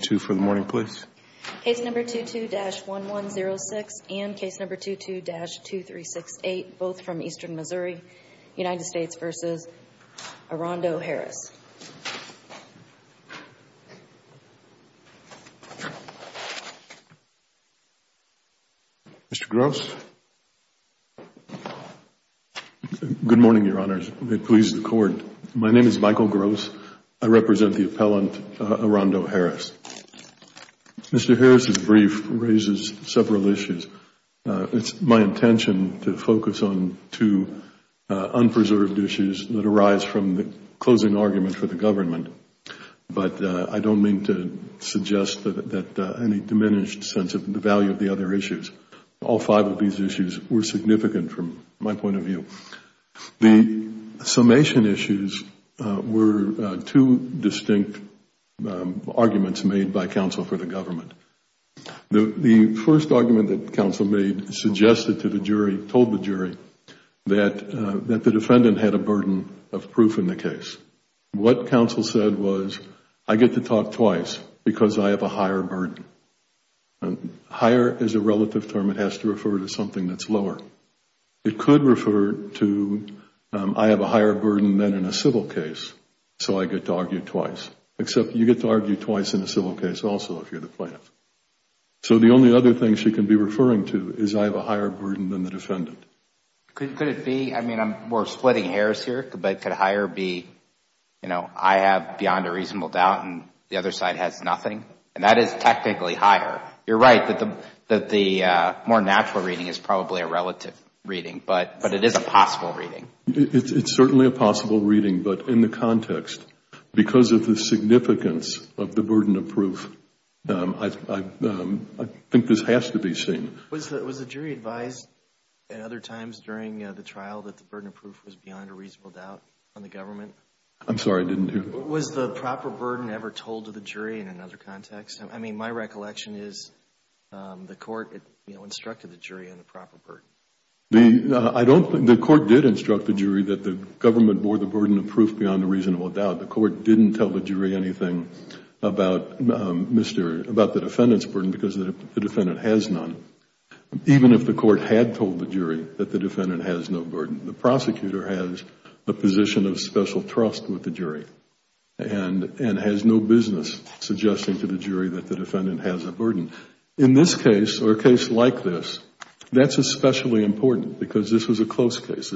2 for the morning, please. Case number 22-1106 and case number 22-2368, both from Eastern Missouri, United States v. Arondo Harris. Good morning, Your Honors. May it please the Court, my name is Michael Gross. I represent the appellant, Arondo Harris. Mr. Harris' brief raises several issues. It is my intention to focus on two unpreserved issues that arise from the closing argument for the government, but I don't mean to suggest that any diminished sense of the value of the other issues. All five of these issues were significant from my point of view. The summation issues were two distinct arguments made by counsel for the government. The first argument that counsel made suggested to the jury, told the jury, that the defendant had a burden of proof in the case. What counsel said was, I get to talk twice because I have a higher burden. Higher is a relative term, it has to refer to something that is lower. It could refer to, I have a higher burden than in a civil case, so I get to argue twice, except you get to argue twice in a civil case also if you are the plaintiff. So the only other thing she can be referring to is I have a higher burden than the defendant. Could it be, I mean we are splitting hairs here, but could higher be, I have beyond a reasonable doubt and the other side has nothing? And that is technically higher. You are right that the more natural reading is probably a relative reading, but it is a possible reading. It is certainly a possible reading, but in the context, because of the significance of the burden of proof, I think this has to be seen. Was the jury advised at other times during the trial that the burden of proof was beyond a reasonable doubt on the government? I am sorry, I didn't hear you. Was the proper burden ever told to the jury in another context? I mean my recollection is the court instructed the jury on the proper burden. The court did instruct the jury that the government bore the burden of proof beyond a reasonable doubt. The court didn't tell the jury anything about the defendant's burden because the defendant has none. Even if the court had told the jury that the defendant has no burden, the prosecutor has a position of special trust with the jury and has no business suggesting to the jury that the defendant has a burden. In this case or a case like this, that is especially important because this was a close case.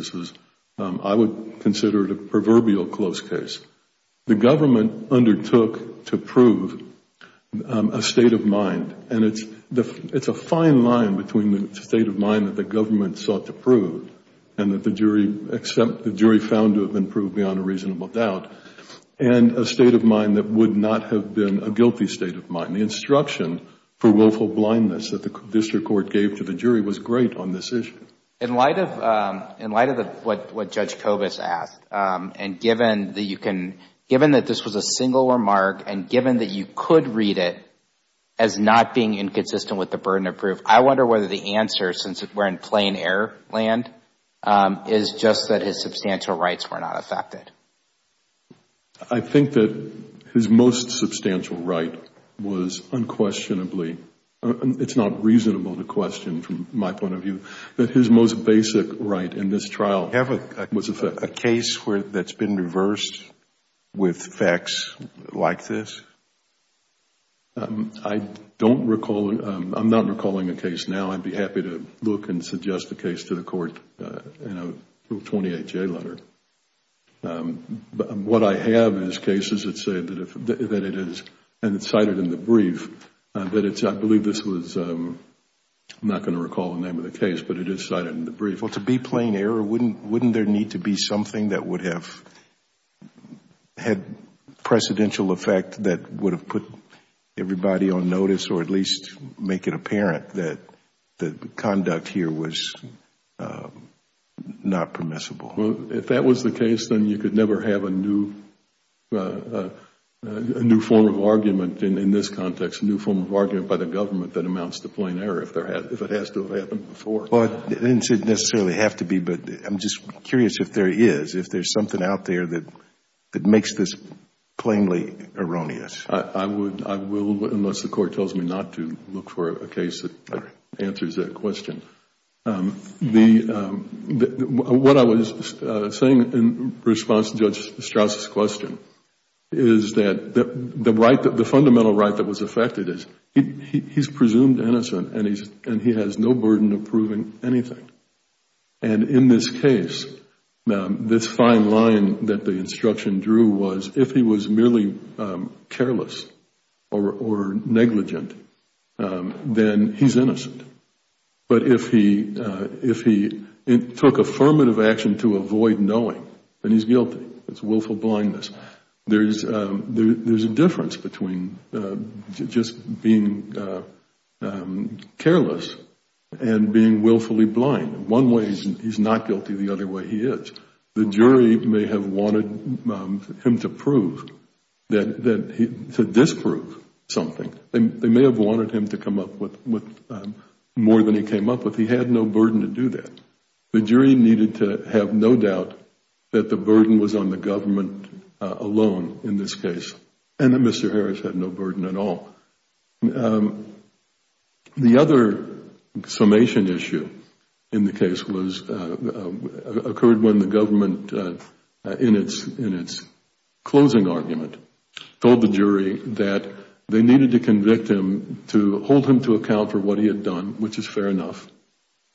I would consider it a proverbial close case. The government undertook to prove a state of mind and it is a fine line between the state of mind that the government sought to prove and that the jury found to have been proved beyond a reasonable doubt and a state of mind that would not have been a guilty state of mind. The instruction for willful blindness that the district court gave to the jury was great on this issue. In light of what Judge Kobus asked and given that this was a single remark and given that you could read it as not being inconsistent with the burden of proof, I wonder whether the answer, since we are in plain error land, is just that his substantial rights were not affected. I think that his most substantial right was unquestionably, it is not reasonable to question from my point of view, that his most basic right in this trial was affected. Do you have a case that has been reversed with facts like this? I am not recalling a case now. I would be happy to look and suggest a case to the court in a Rule 28J letter. What I have is cases that say that it is, and it is cited in the brief, that it is, I believe this was, I am not going to recall the name of the case, but it is cited in the brief. To be plain error, wouldn't there need to be something that would have had precedential effect that would have put everybody on notice or at least make it apparent that the conduct here was not permissible? If that was the case, then you could never have a new form of argument in this context, a new form of argument by the government that amounts to plain error if it has to have happened before. It doesn't necessarily have to be, but I am just curious if there is, if there is something out there that makes this plainly erroneous. I will unless the court tells me not to look for a case that answers that question. What I was saying in response to Judge Strauss' question is that the right, the fundamental right that was affected is he is presumed innocent and he has no burden of proving anything. In this case, this fine line that the instruction drew was if he was merely careless or negligent, then he is innocent. But if he took affirmative action to avoid knowing, then he is guilty. It is willful blindness. There is a difference between just being careless and being willfully blind. One way he is not guilty, the other way he is. The jury may have wanted him to prove, to disprove something. They may have wanted him to come up with more than he came up with. He had no burden to do that. The jury needed to have no doubt that the burden was on the government alone in this case and that Mr. Harris had no burden at all. The other summation issue in the case occurred when the government, in its closing argument, told the jury that they needed to convict him to hold him to account for what he had done, which is fair enough.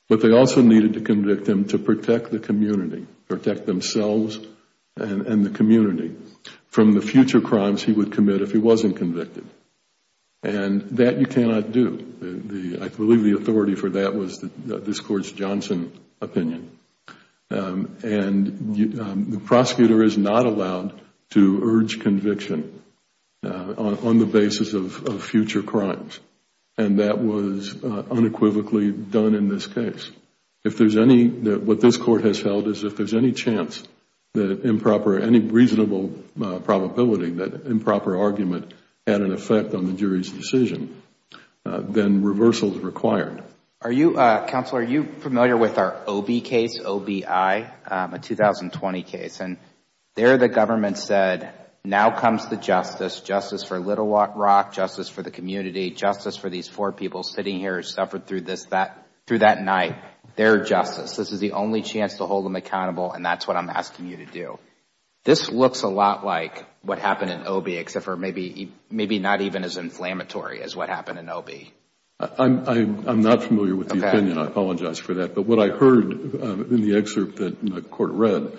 But they also needed to convict him to protect the community, protect themselves and the community from the future crimes he would commit if he wasn't convicted. That you cannot do. I believe the authority for that was this Court's Johnson opinion. The prosecutor is not allowed to urge conviction on the basis of future crimes. That was unequivocally done in this case. What this Court has held is if there is any chance, any reasonable probability that improper argument had an effect on the jury's decision, then reversal is required. Counsel, are you familiar with our OB case, OBI, a 2020 case? There the government said, now comes the justice. Justice for Little Rock, justice for the community, justice for these four people sitting here who suffered through that night. They are justice. This is the only chance to hold them accountable and that is what I am asking you to do. This looks a lot like what happened in OB, except maybe not even as inflammatory as what happened in OB. I am not familiar with the opinion. I apologize for that. What I heard in the excerpt that the Court read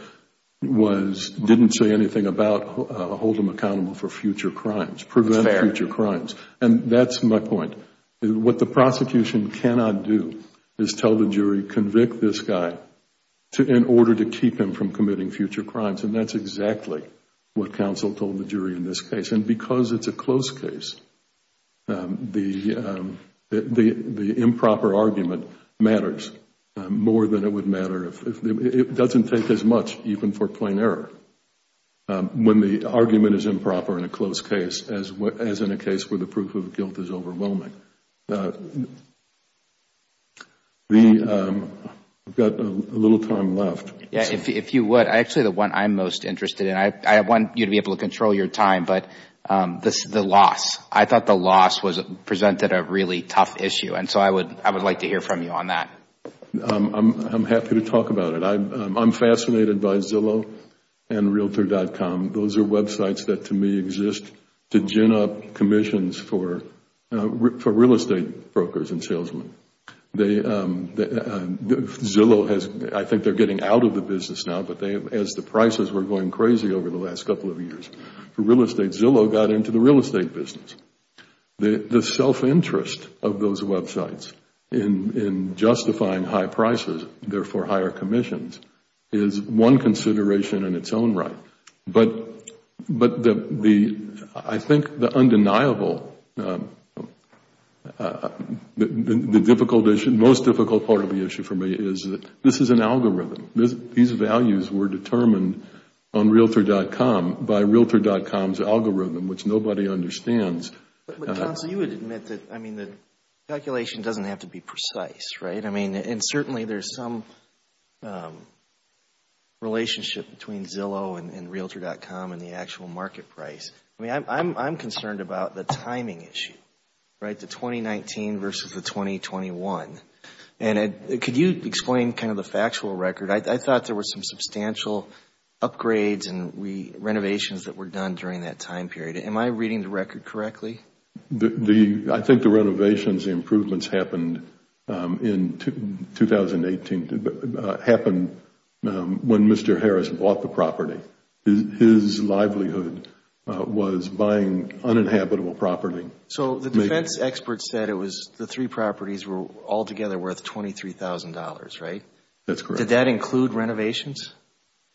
didn't say anything about holding them accountable for future crimes, preventing future crimes. That is my point. What the prosecution cannot do is tell the jury, convict this guy in order to keep him from committing future crimes. That is exactly what counsel told the jury in this case. Because it is a closed case, the improper argument matters more than it would matter. It doesn't take as much even for plain error when the argument is improper in a closed case as in a case where the proof of guilt is overwhelming. I have a little time left. Actually, the one I am most interested in. I want you to be able to control your time. This is the loss. I thought the loss presented a really tough issue. I would like to hear from you on that. I am happy to talk about it. I am fascinated by Zillow and Realtor.com. Those are websites that to me exist to gin up commissions for real estate brokers and salesmen. Zillow, I think they are getting out of the business now, but as the prices were going crazy over the last couple of years, real estate Zillow got into the real estate business. The self-interest of those websites in justifying high prices, therefore higher commissions, is one consideration in its own right. I think the undeniable, the most difficult part of the issue for me is that this is an algorithm. These values were determined on Realtor.com by Realtor.com's algorithm, which nobody understands. You would admit that calculation doesn't have to be precise, right? Certainly, there is some relationship between Zillow and Realtor.com and the actual market price. I am concerned about the timing issue, the 2019 versus the 2021. Could you explain the factual record? I thought there were some substantial upgrades and renovations that were done during that time period. Am I reading the record correctly? I think the renovations and improvements happened in 2018. It happened when Mr. Harris bought the property. His livelihood was buying uninhabitable property. The defense expert said the three properties were altogether worth $23,000, right? That's correct. Did that include renovations?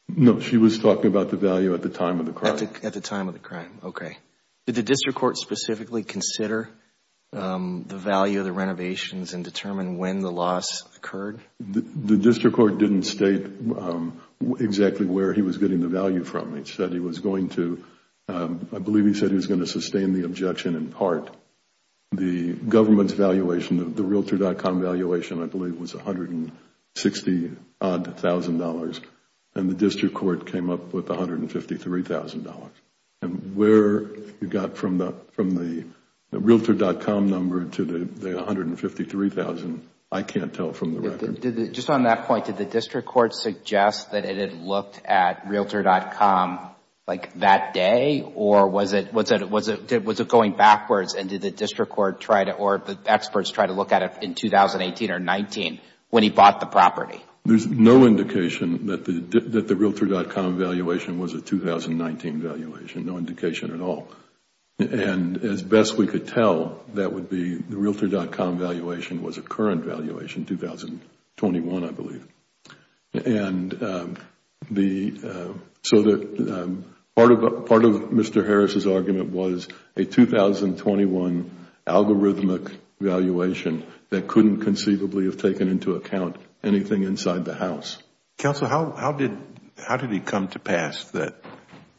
No, she was talking about the value at the time of the crime. At the time of the crime, okay. Did the district court specifically consider the value of the renovations and determine when the loss occurred? The district court didn't state exactly where he was getting the value from. I believe he said he was going to sustain the objection in part. The government's valuation of the Realtor.com valuation, I believe, was $160,000. The district court came up with $153,000. Where he got from the Realtor.com number to the $153,000, I can't tell from the record. Just on that point, did the district court suggest that it had looked at Realtor.com that day? Or was it going backwards? Did the district court or the experts try to look at it in 2018 or 2019 when he bought the property? There is no indication that the Realtor.com valuation was a 2019 valuation. No indication at all. As best we could tell, the Realtor.com valuation was a current valuation, 2021, I believe. Part of Mr. Harris' argument was a 2021 algorithmic valuation that couldn't conceivably have taken into account anything inside the house. Counsel, how did it come to pass that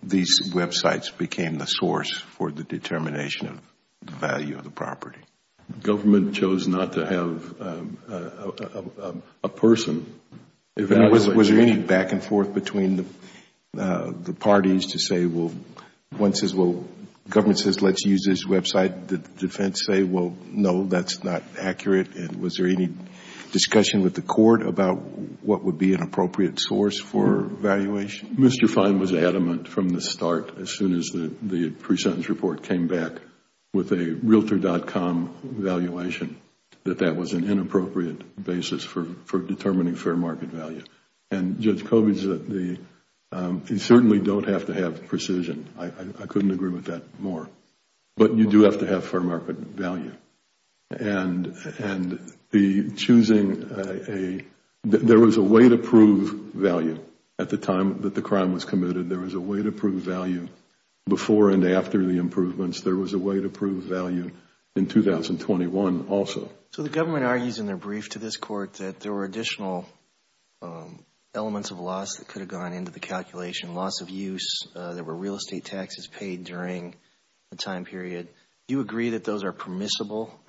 these websites became the source for the determination of the value of the property? The government chose not to have a person evaluate. Was there any back and forth between the parties to say once the government says let's use this website, the defense says no, that's not accurate? Was there any discussion with the court about what would be an appropriate source for valuation? Mr. Fine was adamant from the start as soon as the pre-sentence report came back with a Realtor.com valuation that that was an inappropriate basis for determining fair market value. And Judge Cobey said you certainly don't have to have precision. I couldn't agree with that more. But you do have to have fair market value. And there was a way to prove value at the time that the crime was committed. There was a way to prove value before and after the improvements. There was a way to prove value in 2021 also. So the government argues in their brief to this court that there were additional elements of loss that could have gone into the calculation, loss of use. There were real estate taxes paid during the time period. Do you agree that those are permissible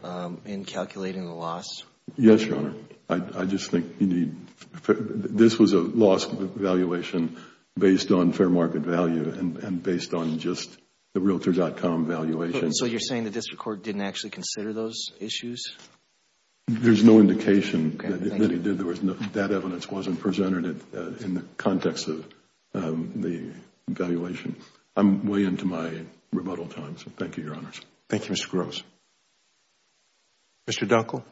in calculating the loss? Yes, Your Honor. I just think this was a loss valuation based on fair market value and based on just the Realtor.com valuation. So you're saying the district court didn't actually consider those issues? There's no indication that it did. That evidence wasn't presented in the context of the valuation. I'm way into my rebuttal time, so thank you, Your Honors. Thank you, Mr. Gross. Mr. Dunkle.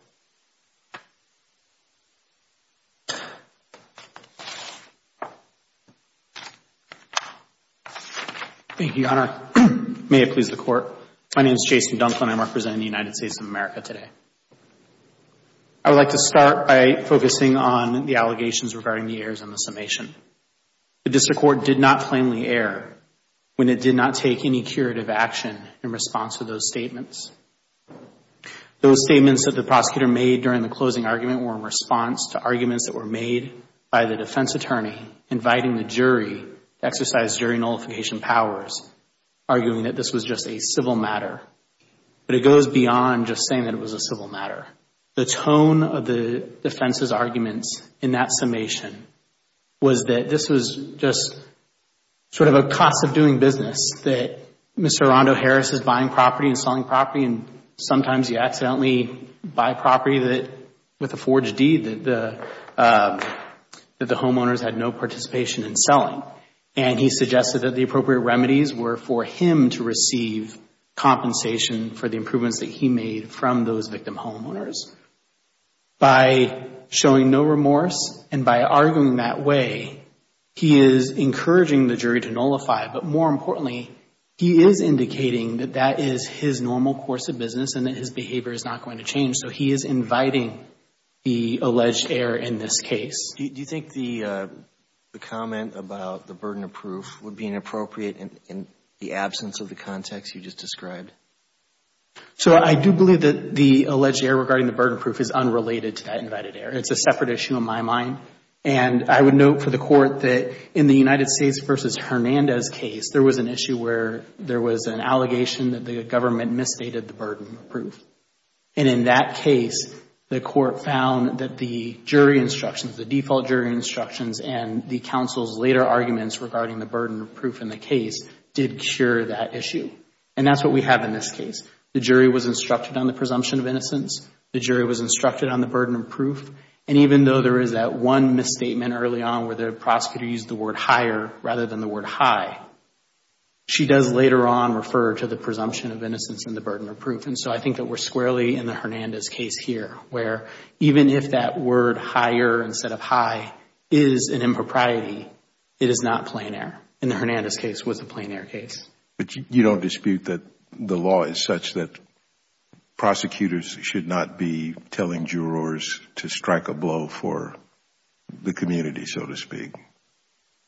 Thank you, Your Honor. May it please the Court. My name is Jason Dunkle and I'm representing the United States of America today. I would like to start by focusing on the allegations regarding the errors in the summation. The district court did not plainly err when it did not take any curative action in response to those statements. Those statements that the prosecutor made during the closing argument were in response to arguments that were made by the defense attorney inviting the jury to exercise jury nullification powers, arguing that this was just a civil matter. But it goes beyond just saying that it was a civil matter. The tone of the defense's arguments in that summation was that this was just sort of a cost of doing business, that Mr. Rondo-Harris is buying property and selling property and sometimes you accidentally buy property with a forged deed that the homeowners had no participation in selling. And he suggested that the appropriate remedies were for him to receive compensation for the improvements that he made from those victim homeowners. By showing no remorse and by arguing that way, he is encouraging the jury to nullify. But more importantly, he is indicating that that is his normal course of business and that his behavior is not going to change. So he is inviting the alleged error in this case. Do you think the comment about the burden of proof would be inappropriate in the absence of the context you just described? So I do believe that the alleged error regarding the burden of proof is unrelated to that invited error. It's a separate issue in my mind. And I would note for the Court that in the United States v. Hernandez case, there was an issue where there was an allegation that the government misstated the burden of proof. And in that case, the Court found that the jury instructions, the default jury instructions, and the counsel's later arguments regarding the burden of proof in the case did cure that issue. And that's what we have in this case. The jury was instructed on the presumption of innocence. The jury was instructed on the burden of proof. And even though there is that one misstatement early on where the prosecutor used the word higher rather than the word high, she does later on refer to the presumption of innocence and the burden of proof. And so I think that we're squarely in the Hernandez case here, where even if that word higher instead of high is an impropriety, it is not plein air. And the Hernandez case was a plein air case. But you don't dispute that the law is such that prosecutors should not be telling jurors to strike a blow for the community, so to speak?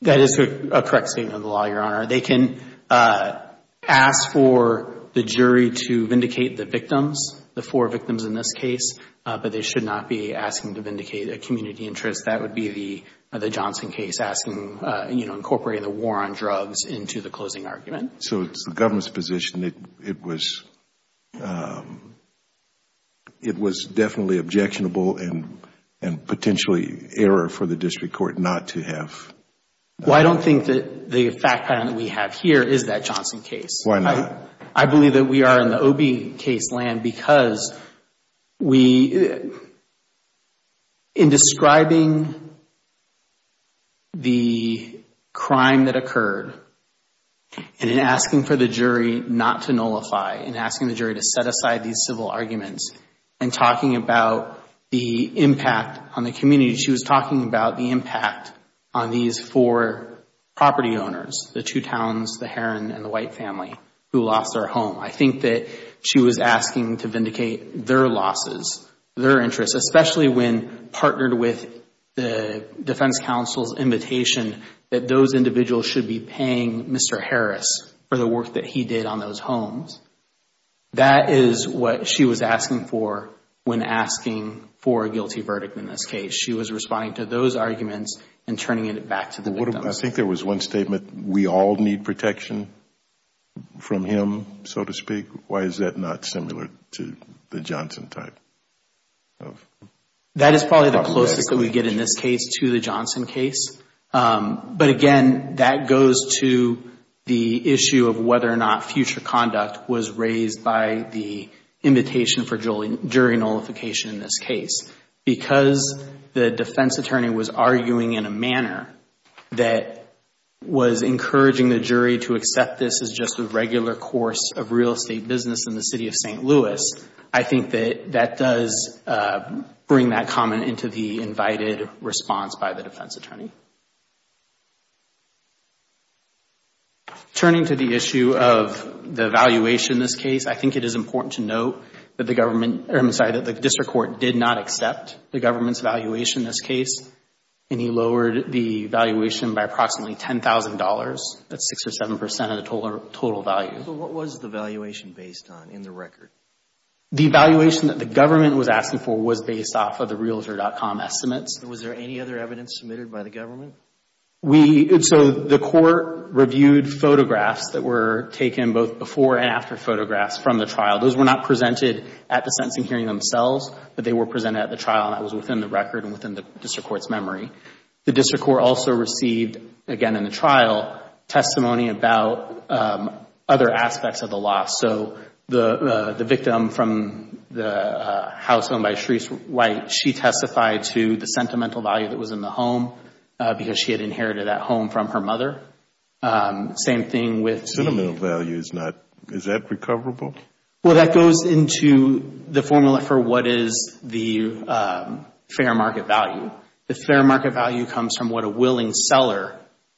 That is a correct statement of the law, Your Honor. They can ask for the jury to vindicate the victims, the four victims in this case, but they should not be asking to vindicate a community interest. That would be the Johnson case asking, you know, incorporating the war on drugs into the closing argument. So it's the government's position that it was definitely objectionable and potentially error for the district court not to have? Well, I don't think that the fact pattern that we have here is that Johnson case. Why not? I believe that we are in the Obie case land because in describing the crime that occurred and in asking for the jury not to nullify and asking the jury to set aside these civil arguments and talking about the impact on the community, she was talking about the impact on these four property owners, the two towns, the Heron and the White family who lost their home. I think that she was asking to vindicate their losses, their interests, especially when partnered with the defense counsel's invitation that those individuals should be paying Mr. Harris for the work that he did on those homes. That is what she was asking for when asking for a guilty verdict in this case. She was responding to those arguments and turning it back to the victims. I think there was one statement, we all need protection from him, so to speak. Why is that not similar to the Johnson type? That is probably the closest that we get in this case to the Johnson case. But again, that goes to the issue of whether or not future conduct was raised by the invitation for jury nullification in this case. Because the defense attorney was arguing in a manner that was encouraging the jury to accept this as just a regular course of real estate business in the city of St. Louis, I think that that does bring that comment into the invited response by the defense attorney. Turning to the issue of the valuation in this case, I think it is important to note that the district court did not accept the government's valuation in this case and he lowered the valuation by approximately $10,000. That is 6 or 7 percent of the total value. What was the valuation based on in the record? The valuation that the government was asking for was based off of the Realtor.com estimates. Was there any other evidence submitted by the government? The court reviewed photographs that were taken both before and after photographs from the trial. Those were not presented at the sentencing hearing themselves, but they were presented at the trial and that was within the record and within the district court's memory. The district court also received, again in the trial, testimony about other aspects of the loss. So the victim from the house owned by Shreece White, she testified to the sentimental value that was in the home because she had inherited that home from her mother. Same thing with the Sentimental value is not, is that recoverable? Well, that goes into the formula for what is the fair market value. The fair market value comes from what a willing seller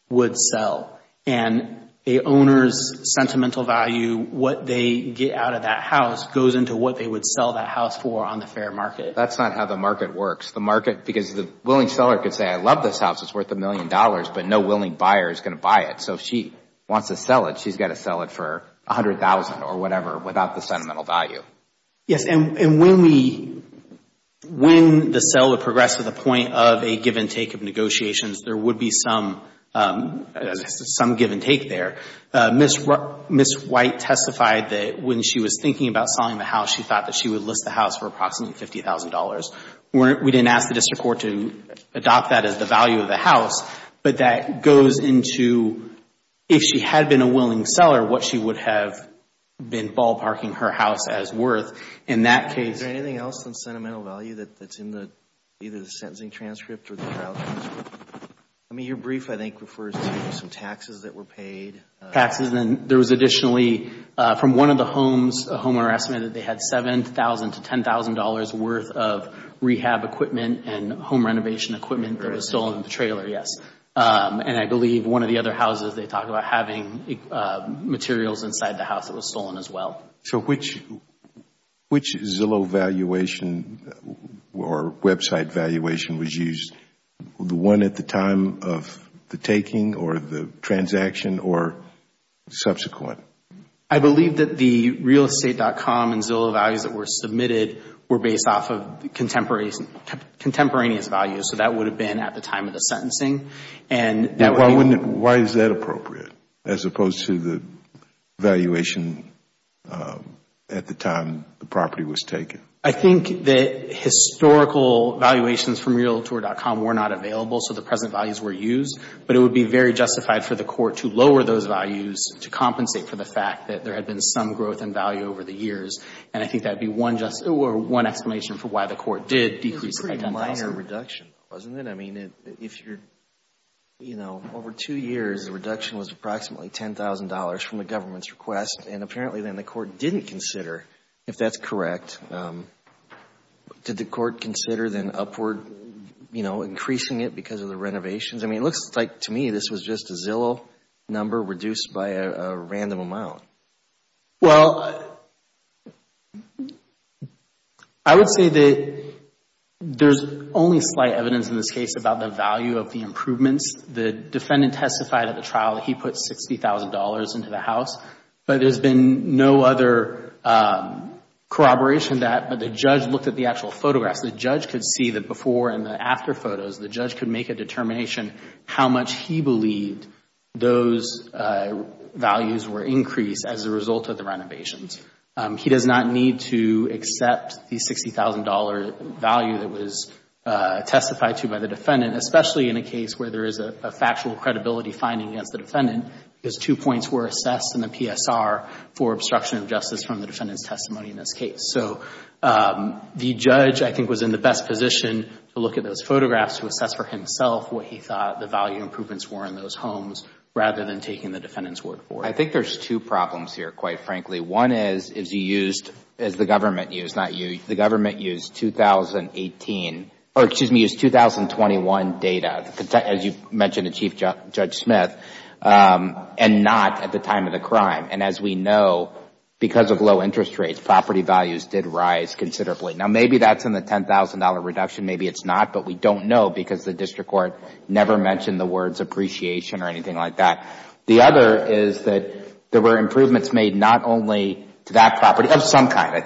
would sell and a owner's sentimental value, what they get out of that house, goes into what they would sell that house for on the fair market. That's not how the market works. The market, because the willing seller could say, I love this house, it's worth a million dollars, but no willing buyer is going to buy it. So if she wants to sell it, she's got to sell it for $100,000 or whatever without the sentimental value. Yes, and when we, when the seller progressed to the point of a give and take of negotiations, there would be some give and take there. Ms. White testified that when she was thinking about selling the house, she thought that she would list the house for approximately $50,000. We didn't ask the district court to adopt that as the value of the house, but that goes into if she had been a willing seller, what she would have been ballparking her house as worth in that case. Is there anything else on sentimental value that's in either the sentencing transcript or the trial transcript? I mean, your brief, I think, refers to some taxes that were paid. Taxes, and there was additionally from one of the homes, a homeowner estimated that they had $7,000 to $10,000 worth of rehab equipment and home renovation equipment that was stolen in the trailer, yes. And I believe one of the other houses, they talk about having materials inside the house that was stolen as well. So which Zillow valuation or website valuation was used, the one at the time of the taking or the transaction or subsequent? I believe that the realestate.com and Zillow values that were submitted were based off of contemporaneous values, so that would have been at the time of the sentencing. Why is that appropriate as opposed to the valuation at the time the property was taken? I think that historical valuations from realtor.com were not available, so the present values were used, but it would be very justified for the court to lower those values to compensate for the fact that there had been some growth in value over the years, and I think that would be one explanation for why the court did decrease it by $10,000. It was a fair reduction, wasn't it? I mean, if you're, you know, over two years, the reduction was approximately $10,000 from the government's request, and apparently then the court didn't consider, if that's correct, did the court consider then upward, you know, increasing it because of the renovations? I mean, it looks like to me this was just a Zillow number reduced by a random amount. Well, I would say that there's only slight evidence in this case about the value of the improvements. The defendant testified at the trial that he put $60,000 into the house, but there's been no other corroboration of that, but the judge looked at the actual photographs. The judge could see the before and the after photos. The judge could make a determination how much he believed those values were increased as a result of the renovations. He does not need to accept the $60,000 value that was testified to by the defendant, especially in a case where there is a factual credibility finding against the defendant because two points were assessed in the PSR for obstruction of justice from the defendant's testimony in this case. So the judge, I think, was in the best position to look at those photographs to assess for himself what he thought the value improvements were in those homes rather than taking the defendant's word for it. I think there's two problems here, quite frankly. One is you used, as the government used, not you. The government used 2018, or excuse me, used 2021 data, as you mentioned to Chief Judge Smith, and not at the time of the crime. And as we know, because of low interest rates, property values did rise considerably. Now, maybe that's in the $10,000 reduction. Maybe it's not, but we don't know because the district court never mentioned the words appreciation or anything like that. The other is that there were improvements made not only to that property of some kind.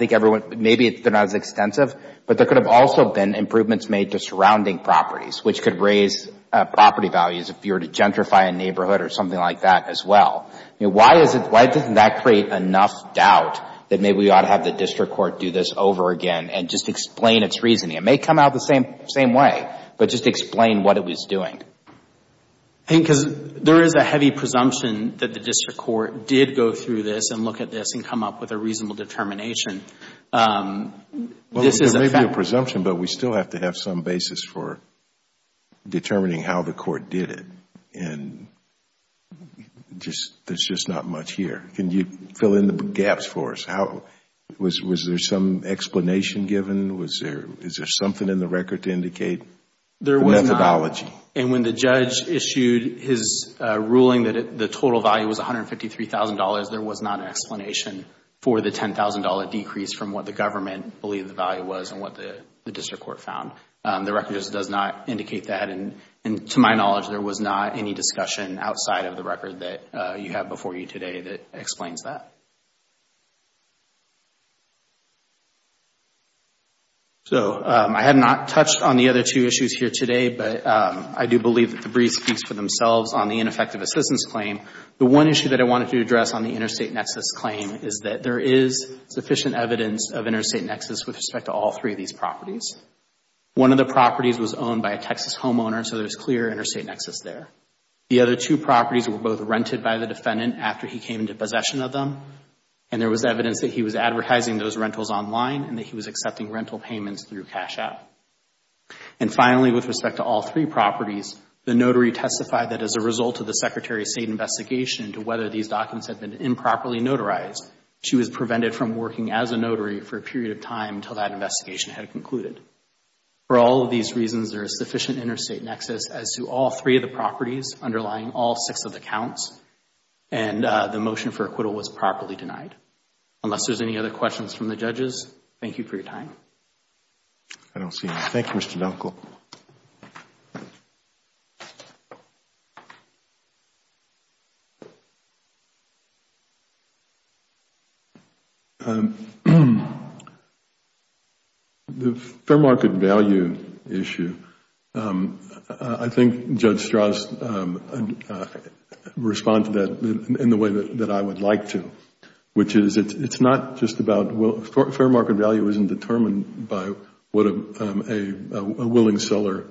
Maybe they're not as extensive, but there could have also been improvements made to surrounding properties, which could raise property values if you were to gentrify a neighborhood or something like that as well. Why doesn't that create enough doubt that maybe we ought to have the district court do this over again and just explain its reasoning? It may come out the same way, but just explain what it was doing. I think because there is a heavy presumption that the district court did go through this and look at this and come up with a reasonable determination. There may be a presumption, but we still have to have some basis for determining how the court did it and there's just not much here. Can you fill in the gaps for us? Was there some explanation given? Is there something in the record to indicate the methodology? When the judge issued his ruling that the total value was $153,000, there was not an explanation for the $10,000 decrease from what the government believed the value was and what the district court found. The record just does not indicate that. To my knowledge, there was not any discussion outside of the record that you have before you today that explains that. I have not touched on the other two issues here today, but I do believe that the brief speaks for themselves on the ineffective assistance claim. The one issue that I wanted to address on the interstate nexus claim is that there is sufficient evidence of interstate nexus with respect to all three of these properties. One of the properties was owned by a Texas homeowner, so there's clear interstate nexus there. The other two properties were both rented by the defendant after he came into possession of them and there was evidence that he was advertising those rentals online and that he was accepting rental payments through Cash App. And finally, with respect to all three properties, the notary testified that as a result of the Secretary of State investigation into whether these documents had been improperly notarized, she was prevented from working as a notary for a period of time until that investigation had concluded. For all of these reasons, there is sufficient interstate nexus as to all three of the properties underlying all six of the counts and the motion for acquittal was properly denied. Unless there's any other questions from the judges, thank you for your time. I don't see any. Thank you, Mr. Dunkel. The fair market value issue, I think Judge Strauss responded to that in the way that I would like to, which is it's not just about fair market value isn't determined by what a willing seller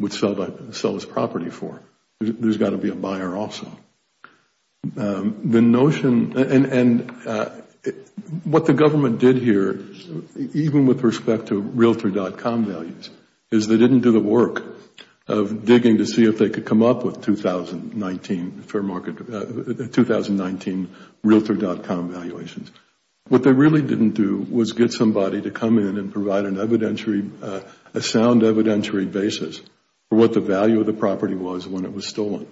would sell his property for. There's got to be a buyer also. The notion and what the government did here, even with respect to Realtor.com values, is they didn't do the work of digging to see if they could come up with 2019 Realtor.com valuations. What they really didn't do was get somebody to come in and provide a sound evidentiary basis for what the value of the property was when it was stolen.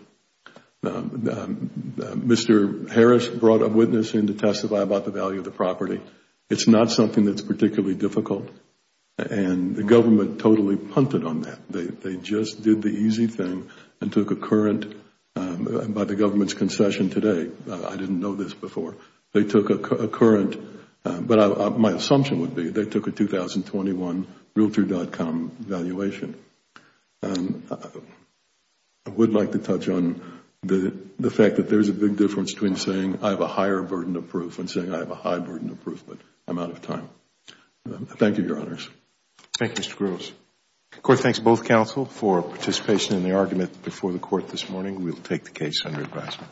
Mr. Harris brought a witness in to testify about the value of the property. It's not something that's particularly difficult. The government totally punted on that. They just did the easy thing and took a current by the government's concession today. I didn't know this before. They took a current, but my assumption would be they took a 2021 Realtor.com valuation. I would like to touch on the fact that there's a big difference between saying I have a higher burden of proof and saying I have a high burden of proof, but I'm out of time. Thank you, Your Honors. Thank you, Mr. Groves. The Court thanks both counsel for participation in the argument before the Court this morning. We'll take the case under advisement.